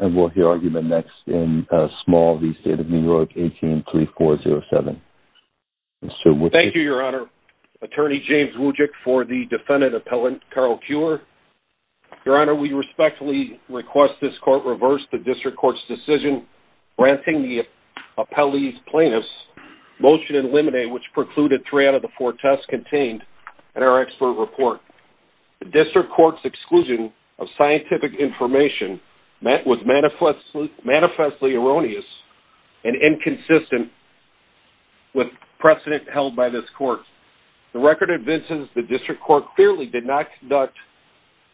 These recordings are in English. of New York. Thank you, your Honor. Attorney James Wojcik for the defendant appellant, Carl Kuer. Your Honor, we respectfully request this court reverse the district court's decision granting the appellee's plaintiffs motion and limine, which precluded three out of the four tests contained in our expert report. The district court's exclusion of was manifestly erroneous and inconsistent with precedent held by this court. The record advances the district court clearly did not conduct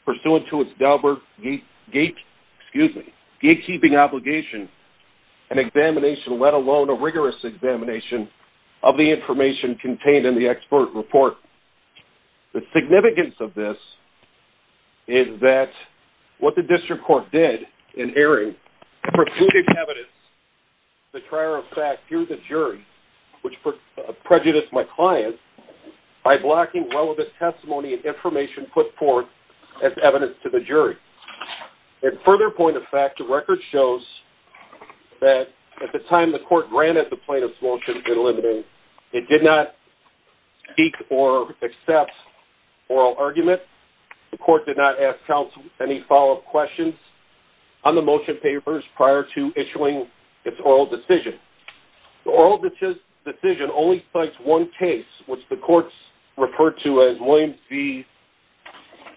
pursuant to its Gilbert gatekeeping obligation an examination, let alone a rigorous examination of the information contained in the expert report. The significance of this is that what the district court did in airing precluded evidence, the prior of fact, here's a jury, which prejudiced my client by blocking relevant testimony and information put forth as evidence to the jury. At further point of fact, the record shows that at the time the court granted the plaintiffs motion and limine, it did not speak or accept oral argument. The court did not ask counsel any follow-up questions on the motion papers prior to issuing its oral decision. The oral decision only cites one case, which the courts referred to as Williams v.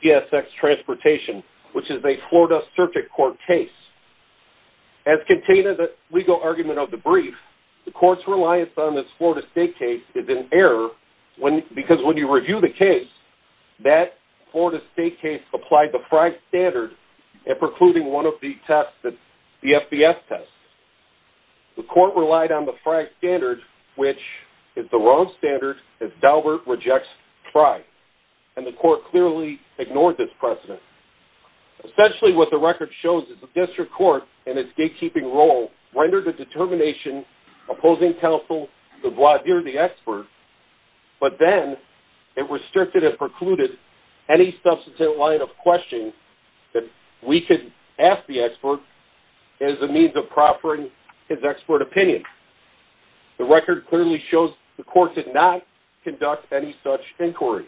GSX Transportation, which is a Florida Circuit Court case. As contained in the legal argument of the brief, the court's reliance on this Florida State case is in error because when you review the case, that Florida State case applied the FRI standard at precluding one of the tests, the FBS test. The court relied on the FRI standard, which is the wrong standard as Daubert rejects FRI and the court clearly ignored this precedent. Essentially what the record shows is the district court and its gatekeeping role rendered a determination opposing counsel to void the expert but then it restricted and precluded any substantive line of question that we could ask the expert as a means of proffering his expert opinion. The record clearly shows the court did not conduct any such inquiry.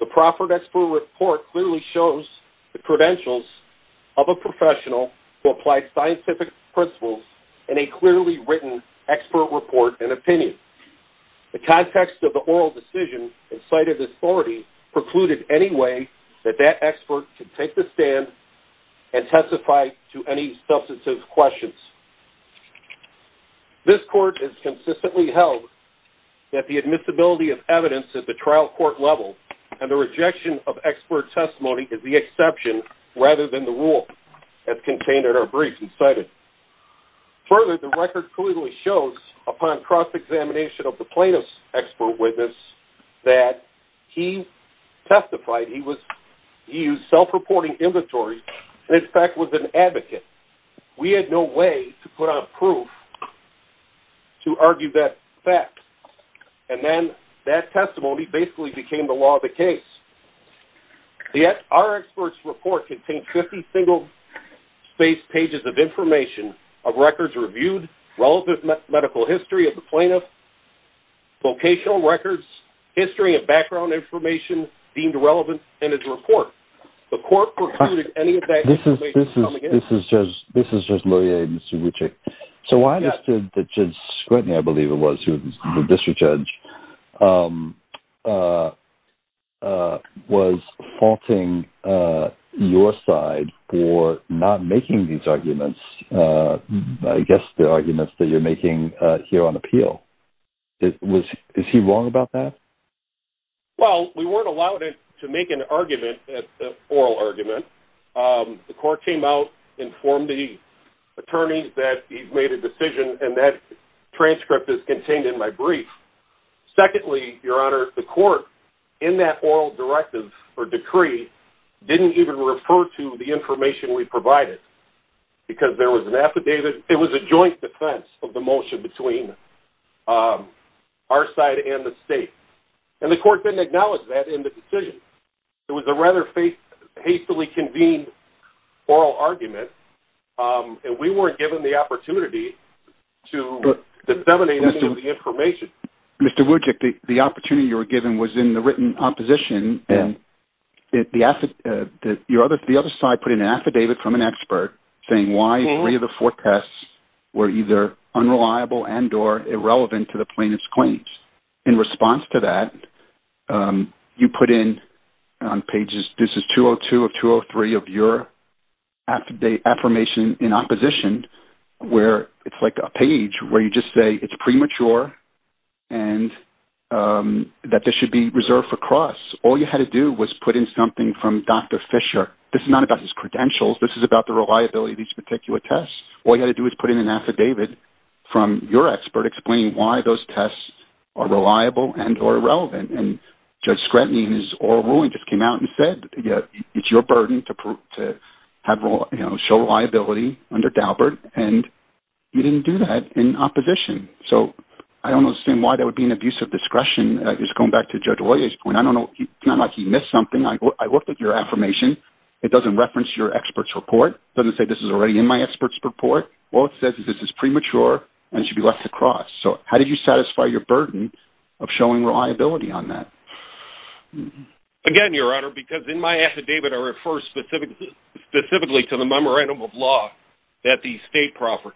The proffered expert report clearly shows the credentials of a professional who applied scientific principles in a clearly written expert report and opinion. The context of the oral decision in sight of this authority precluded any way that that expert could take the stand and testify to any substantive questions. This court has consistently held that the admissibility of evidence at the trial court level and the rejection of expert testimony is the exception rather than the rule as contained in our brief and cited. Further, the record clearly shows upon cross examination of the plaintiff's expert witness that he testified, he used self-reporting inventory and in fact was an advocate. We had no way to put on proof to argue that fact and then that testimony basically became the law of the case. Our expert's report contained 50 single page pages of information of records reviewed relevant medical history of the plaintiff, vocational records, history and background information deemed relevant in his report. The court precluded any of that information coming in. This is just Luria and Subhuchik. So I understood that Judge Scranton, I believe it was, who was the district judge, was faulting your side for not making these arguments I guess the arguments that you're making here on appeal. Is he wrong about that? Well, we weren't allowed to make an argument, an oral argument. The court came out, informed the attorney that he made a decision and that transcript is contained in my brief. Secondly, your honor, the court in that oral directive or decree didn't even refer to the information we provided because there was an affidavit, it was a joint defense of the motion between our side and the state. And the court didn't acknowledge that in the decision. It was a rather hastily convened oral argument and we weren't given the opportunity to disseminate any of the information. Mr. Wujcik, the opportunity you were talking about in opposition, the other side put in an affidavit from an expert saying why three of the four tests were either unreliable and or irrelevant to the plaintiff's claims. In response to that, you put in on pages, this is 202 of 203 of your affirmation in opposition where it's like a page where you just say it's premature and that this should be reserved for cross. All you had to do was put in something from Dr. Fisher. This is not about his credentials, this is about the reliability of these particular tests. All you had to do is put in an affidavit from your expert explaining why those tests are reliable and or irrelevant and Judge Scranton in his oral ruling just came out and said it's your burden to show reliability under Daubert and you didn't do that in opposition. I don't understand why there would be an abuse of discretion, just going back to Judge Ollier's point. It's not like he missed something. I looked at your affirmation. It doesn't reference your expert's report. It doesn't say this is already in my expert's report. All it says is this is premature and it should be left to cross. How did you satisfy your burden of showing reliability on that? Again, Your Honor, because in my affidavit I refer specifically to the memorandum of law that the state proffered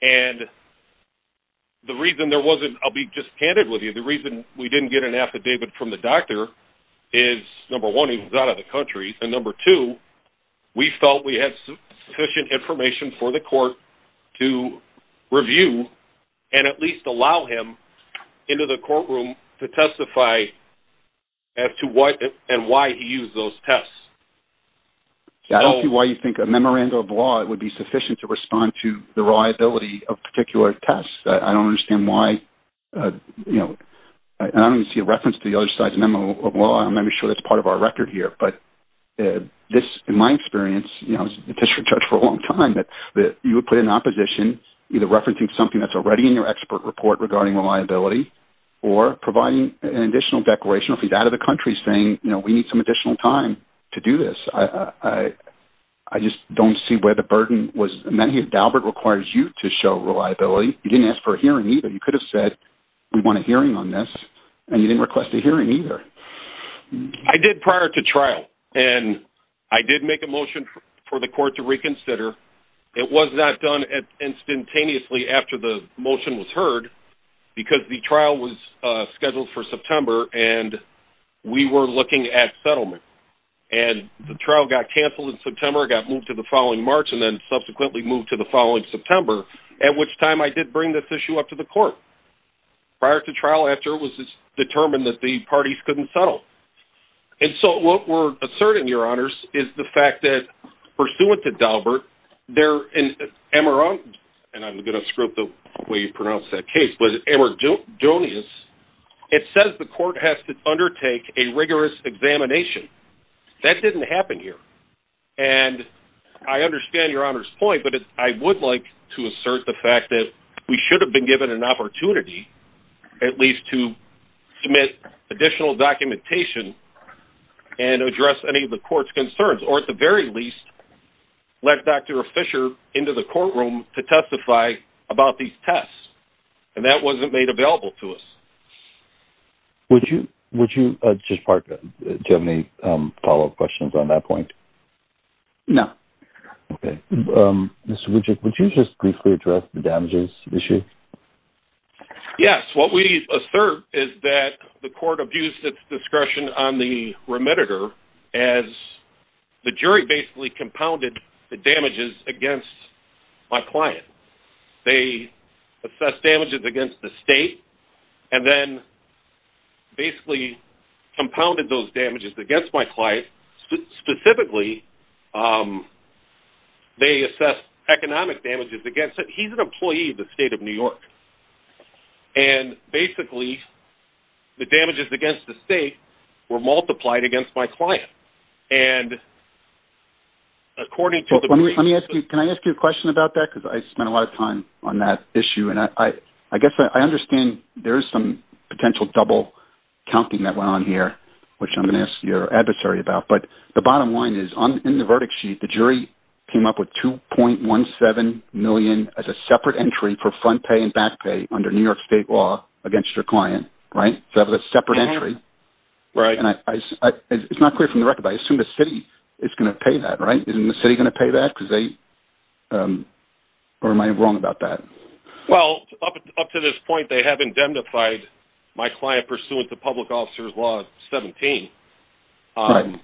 and the reason there wasn't, I'll be just candid with you, the reason we didn't get an affidavit from the doctor is number one, he was out of the country and number two, we felt we had sufficient information for the court to review and at least allow him into the courtroom to testify as to what and why he used those tests. I don't see why you think a memorandum of law would be sufficient to respond to the reliability of particular tests. I don't understand why, and I don't even see a reference to the other side's memo of law. I'm not even sure that's part of our record here, but this, in my experience, I've been district judge for a long time, you would put it in opposition, either referencing something that's already in your expert report regarding reliability or providing an additional declaration, if he's out of the country, saying we need some additional time to do this. I just don't see where the burden was. Dalbert requires you to show reliability. You didn't ask for a hearing either. You could have said we want a hearing on this, and you didn't request a hearing either. I did prior to trial, and I did make a motion for the court to reconsider. It was not done instantaneously after the motion was heard, because the trial was scheduled for September, and we were looking at when the trial got canceled in September, got moved to the following March, and then subsequently moved to the following September, at which time I did bring this issue up to the court prior to trial, after it was determined that the parties couldn't settle. And so what we're asserting, your honors, is the fact that pursuant to Dalbert, they're in, and I'm going to screw up the way you pronounce that case, but it says the court has to undertake a rigorous examination. That didn't happen here. And I understand your honors' point, but I would like to assert the fact that we should have been given an opportunity, at least to submit additional documentation and address any of the court's concerns, or at the very least, let Dr. Fisher into the courtroom to testify about these tests. And that wasn't made available to us. Would you, Judge Parker, do you have any follow-up questions on that point? No. Okay. Mr. Widjuk, would you just briefly address the damages issue? Yes. What we assert is that the court abused its discretion on the remediator as the jury basically compounded the damages against my client. They assessed damages against the state and then basically compounded those damages against my client. Specifically, they assessed economic damages against it. He's an employee of the state of New York. And basically, the damages against the state were multiplied against my client. And according to the... Can I ask you a question about that? Because I spent a lot of time on that issue. And I guess I understand there is some potential double counting that went on here, which I'm going to ask your adversary about. But the bottom line is, in the verdict sheet, the jury came up with $2.17 million as a separate entry for front pay and back pay under New York state law against your client, right? So that was a separate entry. And it's not clear from the record, but I assume the city is going to pay that, right? Isn't the city going to pay that? Or am I wrong about that? Well, up to this point, they have indemnified my client pursuant to public officer's law 17. Okay.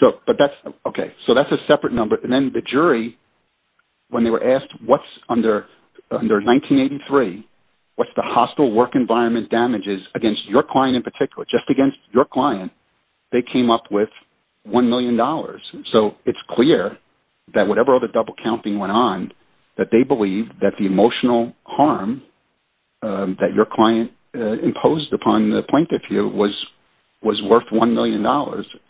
So that's a separate number. And then the jury, when they were asked what's under 1983, what's the hostile work environment damages against your client in particular, just against your client, they came up with $1 million. So it's clear that whatever other double counting went on, that they believed that the emotional harm that your client imposed upon the plaintiff here was worth $1 million.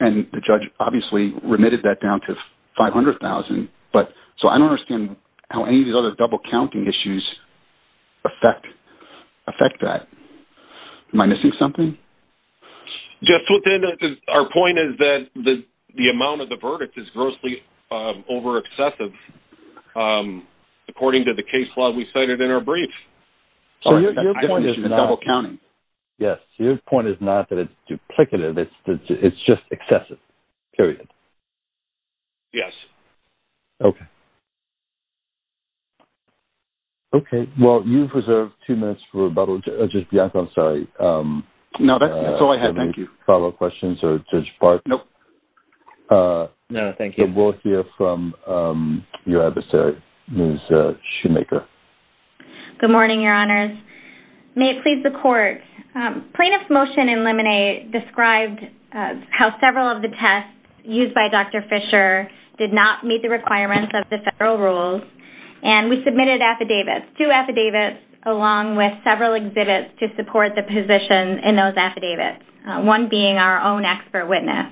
And the judge obviously remitted that down to $500,000. So I don't understand how any of these other double counting issues affect that. Am I missing something? Our point is that the amount of the verdict is grossly over excessive according to the case law we cited in our brief. So your point is not that it's duplicative. It's just excessive. Yes. Okay. Well, you've reserved two minutes for follow-up questions. We'll hear from your adversary, Ms. Shoemaker. Good morning, Your Honors. May it please the Court. Plaintiff's motion in Lemonade described how several of the tests used by Dr. Fisher did not meet the requirements of the federal rules, and we submitted affidavits, two affidavits along with several exhibits to support the position in those affidavits, one being our own expert witness.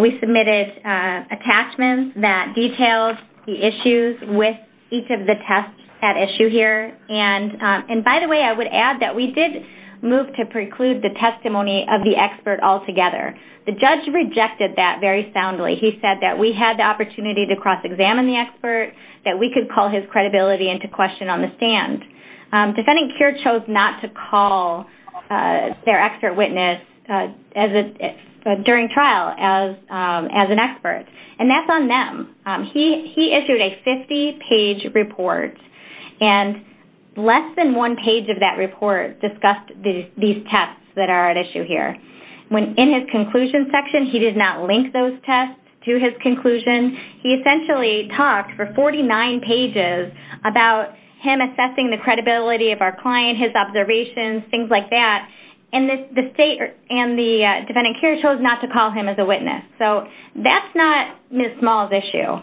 We submitted attachments that detailed the issues with each of the tests at issue here. And by the way, I would add that we did move to preclude the testimony of the expert altogether. The judge rejected that very soundly. He said that we had the opportunity to cross-examine the expert, that we could call his credibility into question on the stand. Defending Cure chose not to call their expert witness during trial as an expert, and that's on them. He issued a 50-page report, and less than one page of that report discussed these tests that are at issue here. In his conclusion section, he did not link those tests to his conclusion. He essentially talked for 49 pages about him assessing the credibility of our client, his observations, things like that, and the State and the Defending Cure chose not to call him as a witness. So that's not Ms. Small's issue.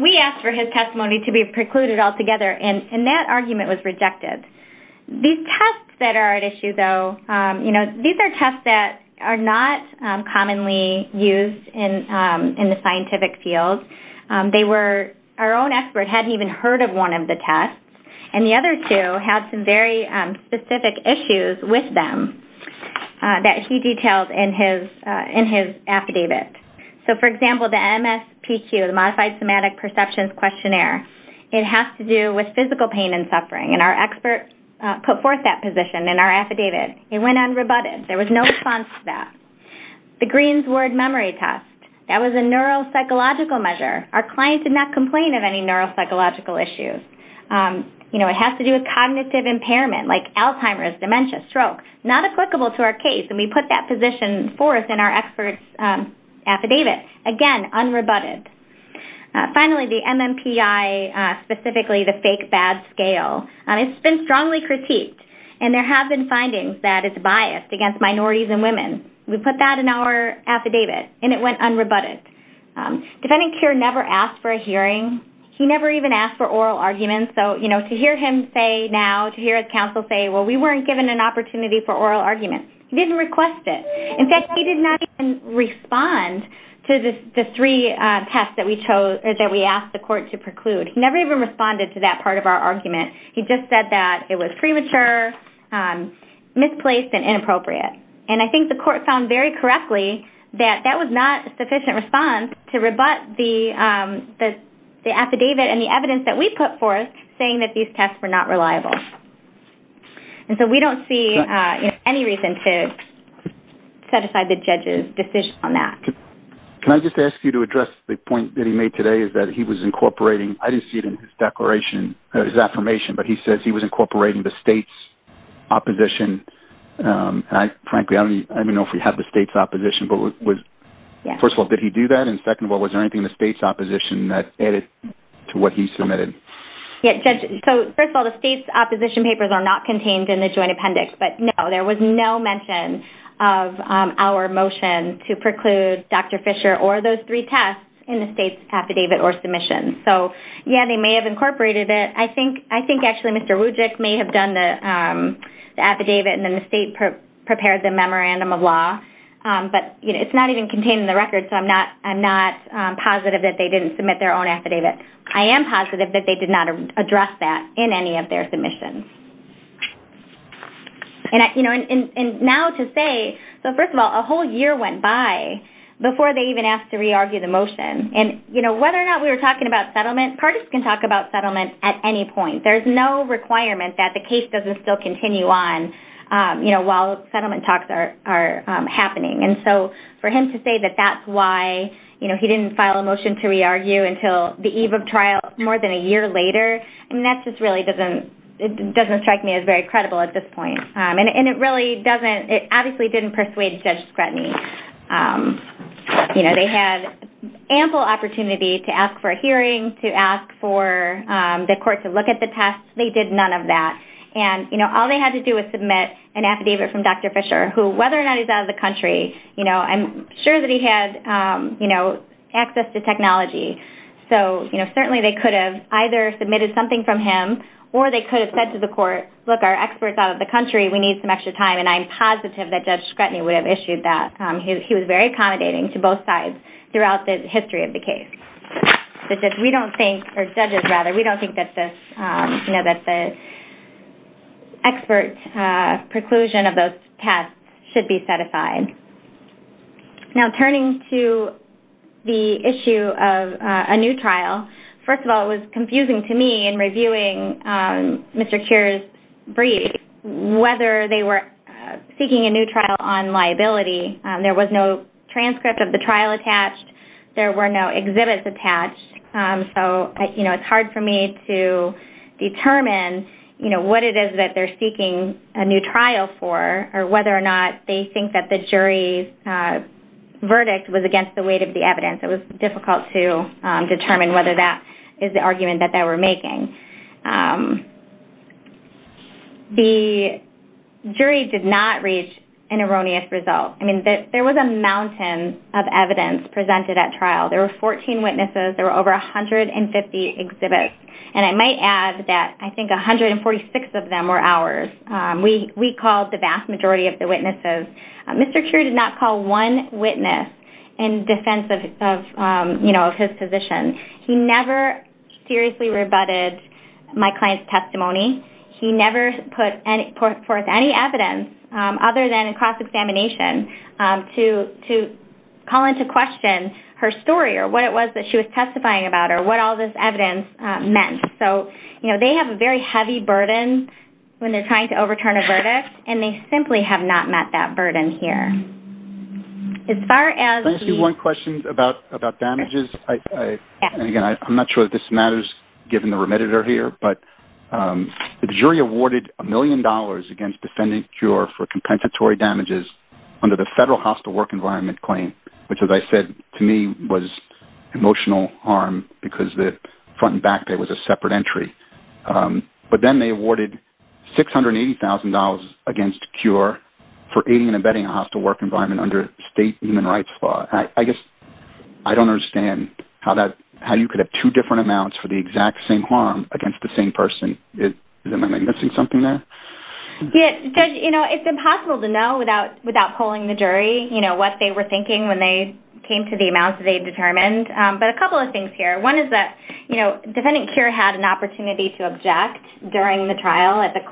We asked for his testimony to be precluded altogether, and that argument was rejected. These tests that are at issue, though, these are tests that are not commonly used in the scientific field. Our own expert hadn't even heard of one of the tests, and the other two had some very specific issues with them that he detailed in his affidavit. So, for example, the MSPQ, the Modified Somatic Perceptions Questionnaire, it has to do with physical pain and suffering, and our expert put forth that position in our affidavit. It went unrebutted. There was no response to that. The Green's Word Memory Test, that was a neuropsychological measure. Our client did not complain of any neuropsychological issues. It has to do with cognitive impairment like Alzheimer's, dementia, stroke. Not applicable to our case, and we put that position forth in our expert's affidavit. Again, unrebutted. Finally, the MMPI, specifically the Fake-Bad Scale, it's been strongly critiqued, and there have been findings that it's biased against minorities and women. We put that in our affidavit, and it went unrebutted. Defending Cure never asked for a hearing. He never even asked for oral arguments. To hear him say now, to hear his counsel say, well, we weren't given an opportunity for oral arguments. He didn't request it. In fact, he did not even respond to the three tests that we asked the court to preclude. He never even responded to that part of our argument. He just said that it was premature, misplaced, and inappropriate. I think the court found very correctly that that was not a sufficient response to rebut the affidavit and the evidence that we put forth saying that these tests were not reliable. We don't see any reason to set aside the judge's decision on that. Can I just ask you to address the point that he made today is that he was incorporating, I didn't see it in his affirmation, but he says he was incorporating the state's opposition. Frankly, I don't even know if we have the state's opposition. First of all, did he do that? Second of all, was there anything in the state's opposition that added to what he submitted? First of all, the state's opposition papers are not contained in the joint appendix. There was no mention of our motion to preclude Dr. Fisher or those three tests in the state's affidavit or submission. They may have incorporated it. I think actually Mr. Wujcik may have done the affidavit and then the state prepared the memorandum of law, but it's not even contained in the record, so I'm not positive that they didn't submit their own affidavit. I am positive that they did not address that in any of their submissions. Now to say, first of all, a whole year went by before they even asked to re-argue the motion and whether or not we were talking about settlement, parties can talk about settlement at any point. There's no requirement that the case doesn't still continue on while settlement talks are happening. For him to say that that's why he didn't file a motion to re-argue until the eve of trial more than a year later, that just really doesn't strike me as very credible at this point. It really obviously didn't persuade Judge Scrutiny. They had ample opportunity to ask for a hearing, to ask for the court to look at the test. They did none of that. All they had to do was submit an affidavit from Dr. Fisher, who whether or not he's out of the country, I'm sure that he had access to technology, so certainly they could have either submitted something from him or they could have said to the court, look, our expert's out of the country, we need some extra time, and I'm positive that Judge Scrutiny would have issued that. He was very accommodating to both sides throughout the history of the case. We don't think, or judges rather, we don't think that the expert preclusion of those tests should be set aside. Now, turning to the issue of a new trial, first of all, it was confusing to me in reviewing Mr. Keir's brief, whether they were seeking a new trial on liability. There was no transcript of the trial attached. There were no exhibits attached. It's hard for me to determine what it is that they're seeking a new trial for or whether or not they think that the jury's verdict was against the weight of the evidence. It was difficult to determine whether that is the argument that they were making. The jury did not reach an erroneous result. There was a mountain of evidence presented at trial. There were 14 witnesses. There were over 150 exhibits, and I might add that I think 146 of them were ours. We called the vast majority of the witnesses. Mr. Keir did not call one witness in defense of his position. He never seriously rebutted my client's testimony. He never put forth any evidence other than a cross-examination to call into question her story or what it was that she was testifying about or what all this evidence meant. They have a very heavy burden when they're trying to overturn a verdict, and they simply have not met that burden here. One question about damages. Again, I'm not sure that this matters given the remediator here, but the jury awarded $1 million against defendant Cure for compensatory damages under the federal hostile work environment claim, which as I said to me was emotional harm because the front and back pay was a separate entry. But then they awarded $680,000 against Cure for aiding and abetting a hostile work environment under state human rights law. I guess I don't understand how you could have two different amounts for the exact same harm against the same person. Am I missing something there? It's impossible to know without polling the jury what they were thinking when they came to the amounts they determined. But a couple of things here. One is that defendant Cure had an opportunity to object during the trial after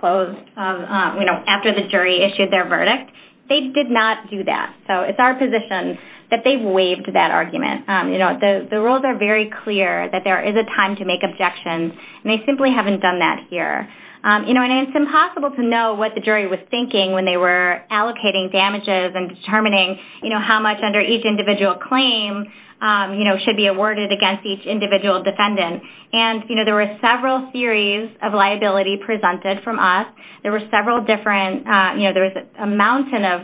the jury issued their verdict. They did not do that. So it's our position that they waived that argument. The rules are very clear that there is a time to make objections. They simply haven't done that here. It's impossible to know what the jury was thinking when they were allocating damages and determining how much under each individual claim should be awarded against each individual defendant. There were several theories of liability presented from us. There were several different amounts of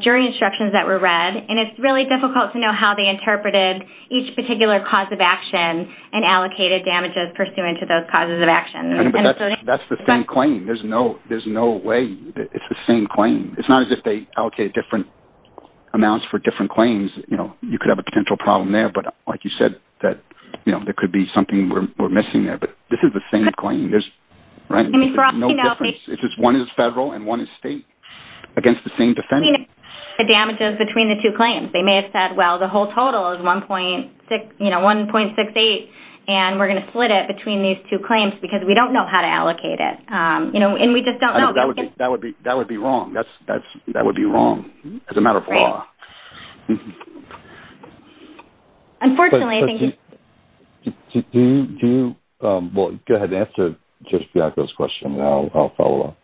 jury instructions that were read. It's really difficult to know how they interpreted each particular cause of damages pursuant to those causes of action. That's the same claim. There's no way. It's the same claim. It's not as if they allocated different amounts for different claims. You could have a potential problem there. But like you said, there could be something we're missing there. This is the same claim. There's no difference. One is federal and one is state against the same defendant. The damages between the two claims. They may have said, well, the whole total is $1.68 and we're going to split it between these two claims because we don't know how to allocate it. That would be wrong. That would be wrong as a matter of law. Unfortunately, I think... Go ahead and answer Judge Bianco's question and I'll follow up.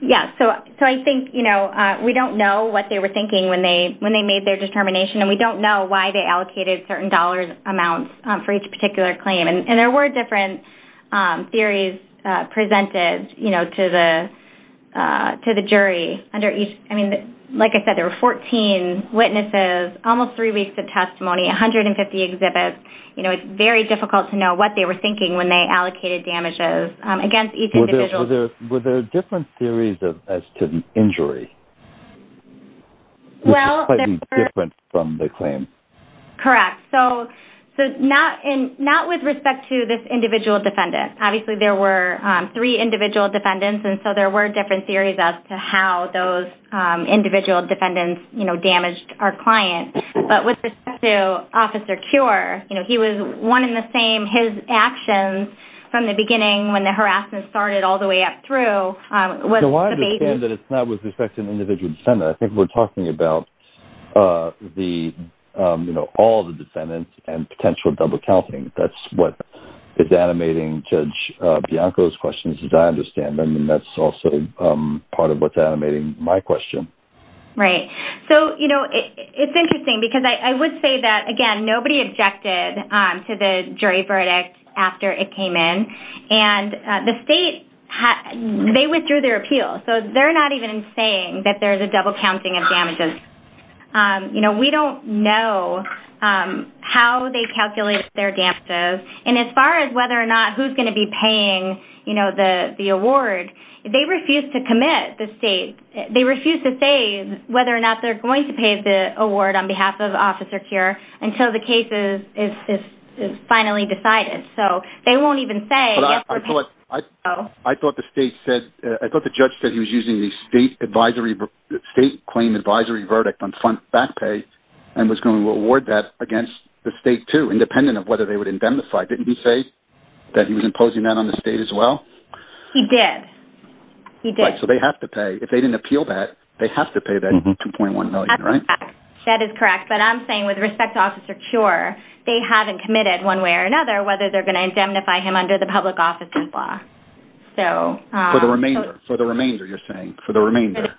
I think we don't know what they were thinking when they made their determination and we don't know why they allocated certain dollars amounts for each particular claim. There were different theories presented to the jury. Like I said, there were 14 witnesses, almost three weeks of testimony, 150 exhibits. It's very difficult to know what they were thinking when they allocated damages against each individual. Were there different theories as to injury? Well... Correct. Not with respect to this individual defendant. Obviously, there were three individual defendants and so there were different theories as to how those individual defendants damaged our client. But with respect to Officer Cure, he was one in the same. His actions from the beginning when the harassment started all the way up through... I understand that it's not with respect to an individual defendant. I think we're talking about all the defendants and potential double counting. That's what is animating Judge Bianco's questions, as I understand. That's also part of what's animating my question. It's interesting because I would say that, again, nobody objected to the jury verdict after it came in. The state withdrew their appeal. They're not even saying that there's a double counting of damages. We don't know how they calculated their damages. As far as whether or not who's going to be paying the award, they refuse to commit the state. They refuse to say whether or not they're going to pay the award on behalf of Officer Cure until the case is finally decided. They won't even say that. I thought the judge said he was using the state claim advisory verdict on front back pay and was going to award that against the state, too, independent of whether they would indemnify. Didn't he say that he was imposing that on the state as well? He did. He did. So they have to pay. If they didn't appeal that, they have to pay that $2.1 million, right? That is correct. I'm saying, with respect to Officer Cure, they haven't committed, one way or another, whether they're going to indemnify him under the public offices law. For the remainder, you're saying. For the remainder.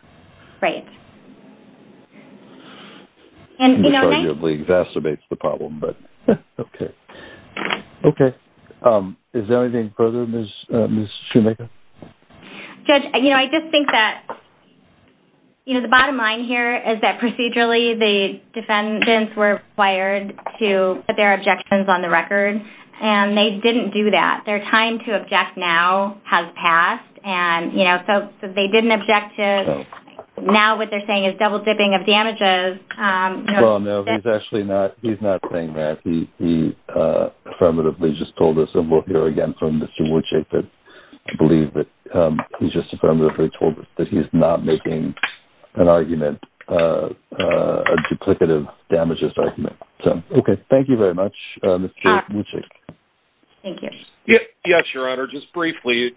Right. Okay. Is there anything further, Ms. Shoemaker? Judge, I just think that the bottom line here is that procedurally, the defendants were required to put their objections on the record, and they didn't do that. Their time to object now has passed, and so they didn't object to. Now, what they're saying is double-dipping of damages. Well, no. He's actually not saying that. He affirmatively just told us. And we'll hear again from Mr. Woodchick to believe that he just affirmatively told us that he's not making an argument, a duplicative damages argument. Okay. Thank you very much, Mr. Woodchick. Thank you. Yes, Your Honor. Just briefly,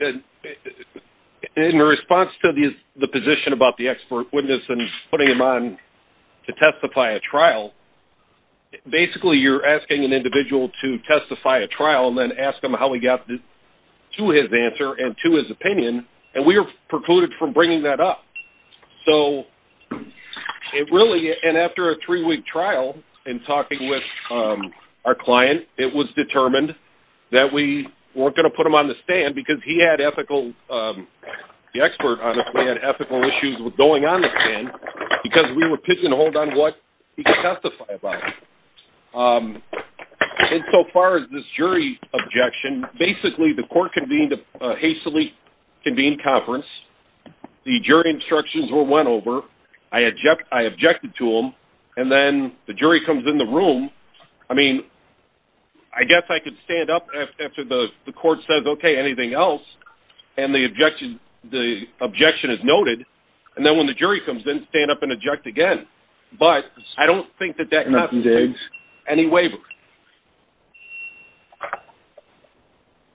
in response to the position about the expert witness and putting him on to testify at trial, basically, you're asking an individual to testify at trial and then ask him how he got to his answer and to his opinion, and we are precluded from bringing that up. So, it really... And after a three-week trial and talking with our client, it was determined that we weren't going to put him on the stand because he had ethical... the expert, honestly, had ethical issues with going on the stand because we were pigeonholed on what he could testify about. And so far as this jury objection, basically, the court convened a hastily convened conference. The jury instructions were went over. I objected to them, and then the jury comes in the room. I mean, I guess I could stand up after the court says, okay, anything else, and the objection is noted, and then when the jury comes in, stand up and object again. But I don't think that that... And he waivers.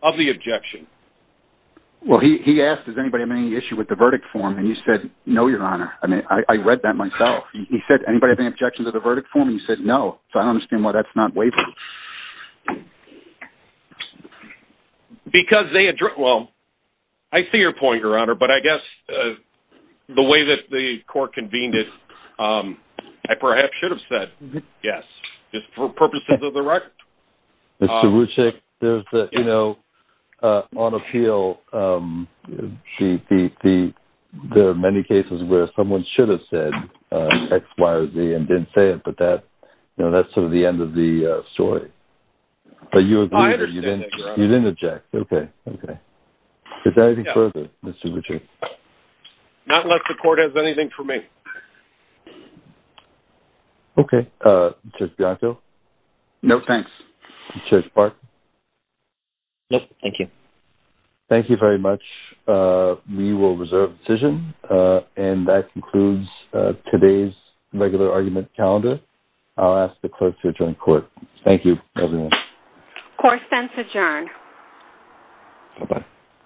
Of the objection. Well, he asked, does anybody have any issue with the verdict form? And he said, no, Your Honor. I mean, I read that myself. He said, anybody have any objection to the verdict form? And he said, no. So, I don't understand why that's not waiving. Because they... Well, I see your point, Your Honor, but I guess the way that the court convened it, I perhaps should have said yes, just for purposes of the record. Mr. Ruchik, there's, you know, on appeal, there are many cases where someone should have said X, Y, or Z and didn't say it, but that's sort of the end of the story. I understand that, Your Honor. You didn't object. Okay. Is there anything further, Mr. Ruchik? Not unless the court has anything for me. Okay. Mr. Bianco? No, thanks. Mr. Clark? No, thank you. Thank you very much. We will reserve the decision, and that concludes today's regular argument calendar. I'll ask the clerk to adjourn court. Thank you, everyone. Court stands adjourned. Goodbye.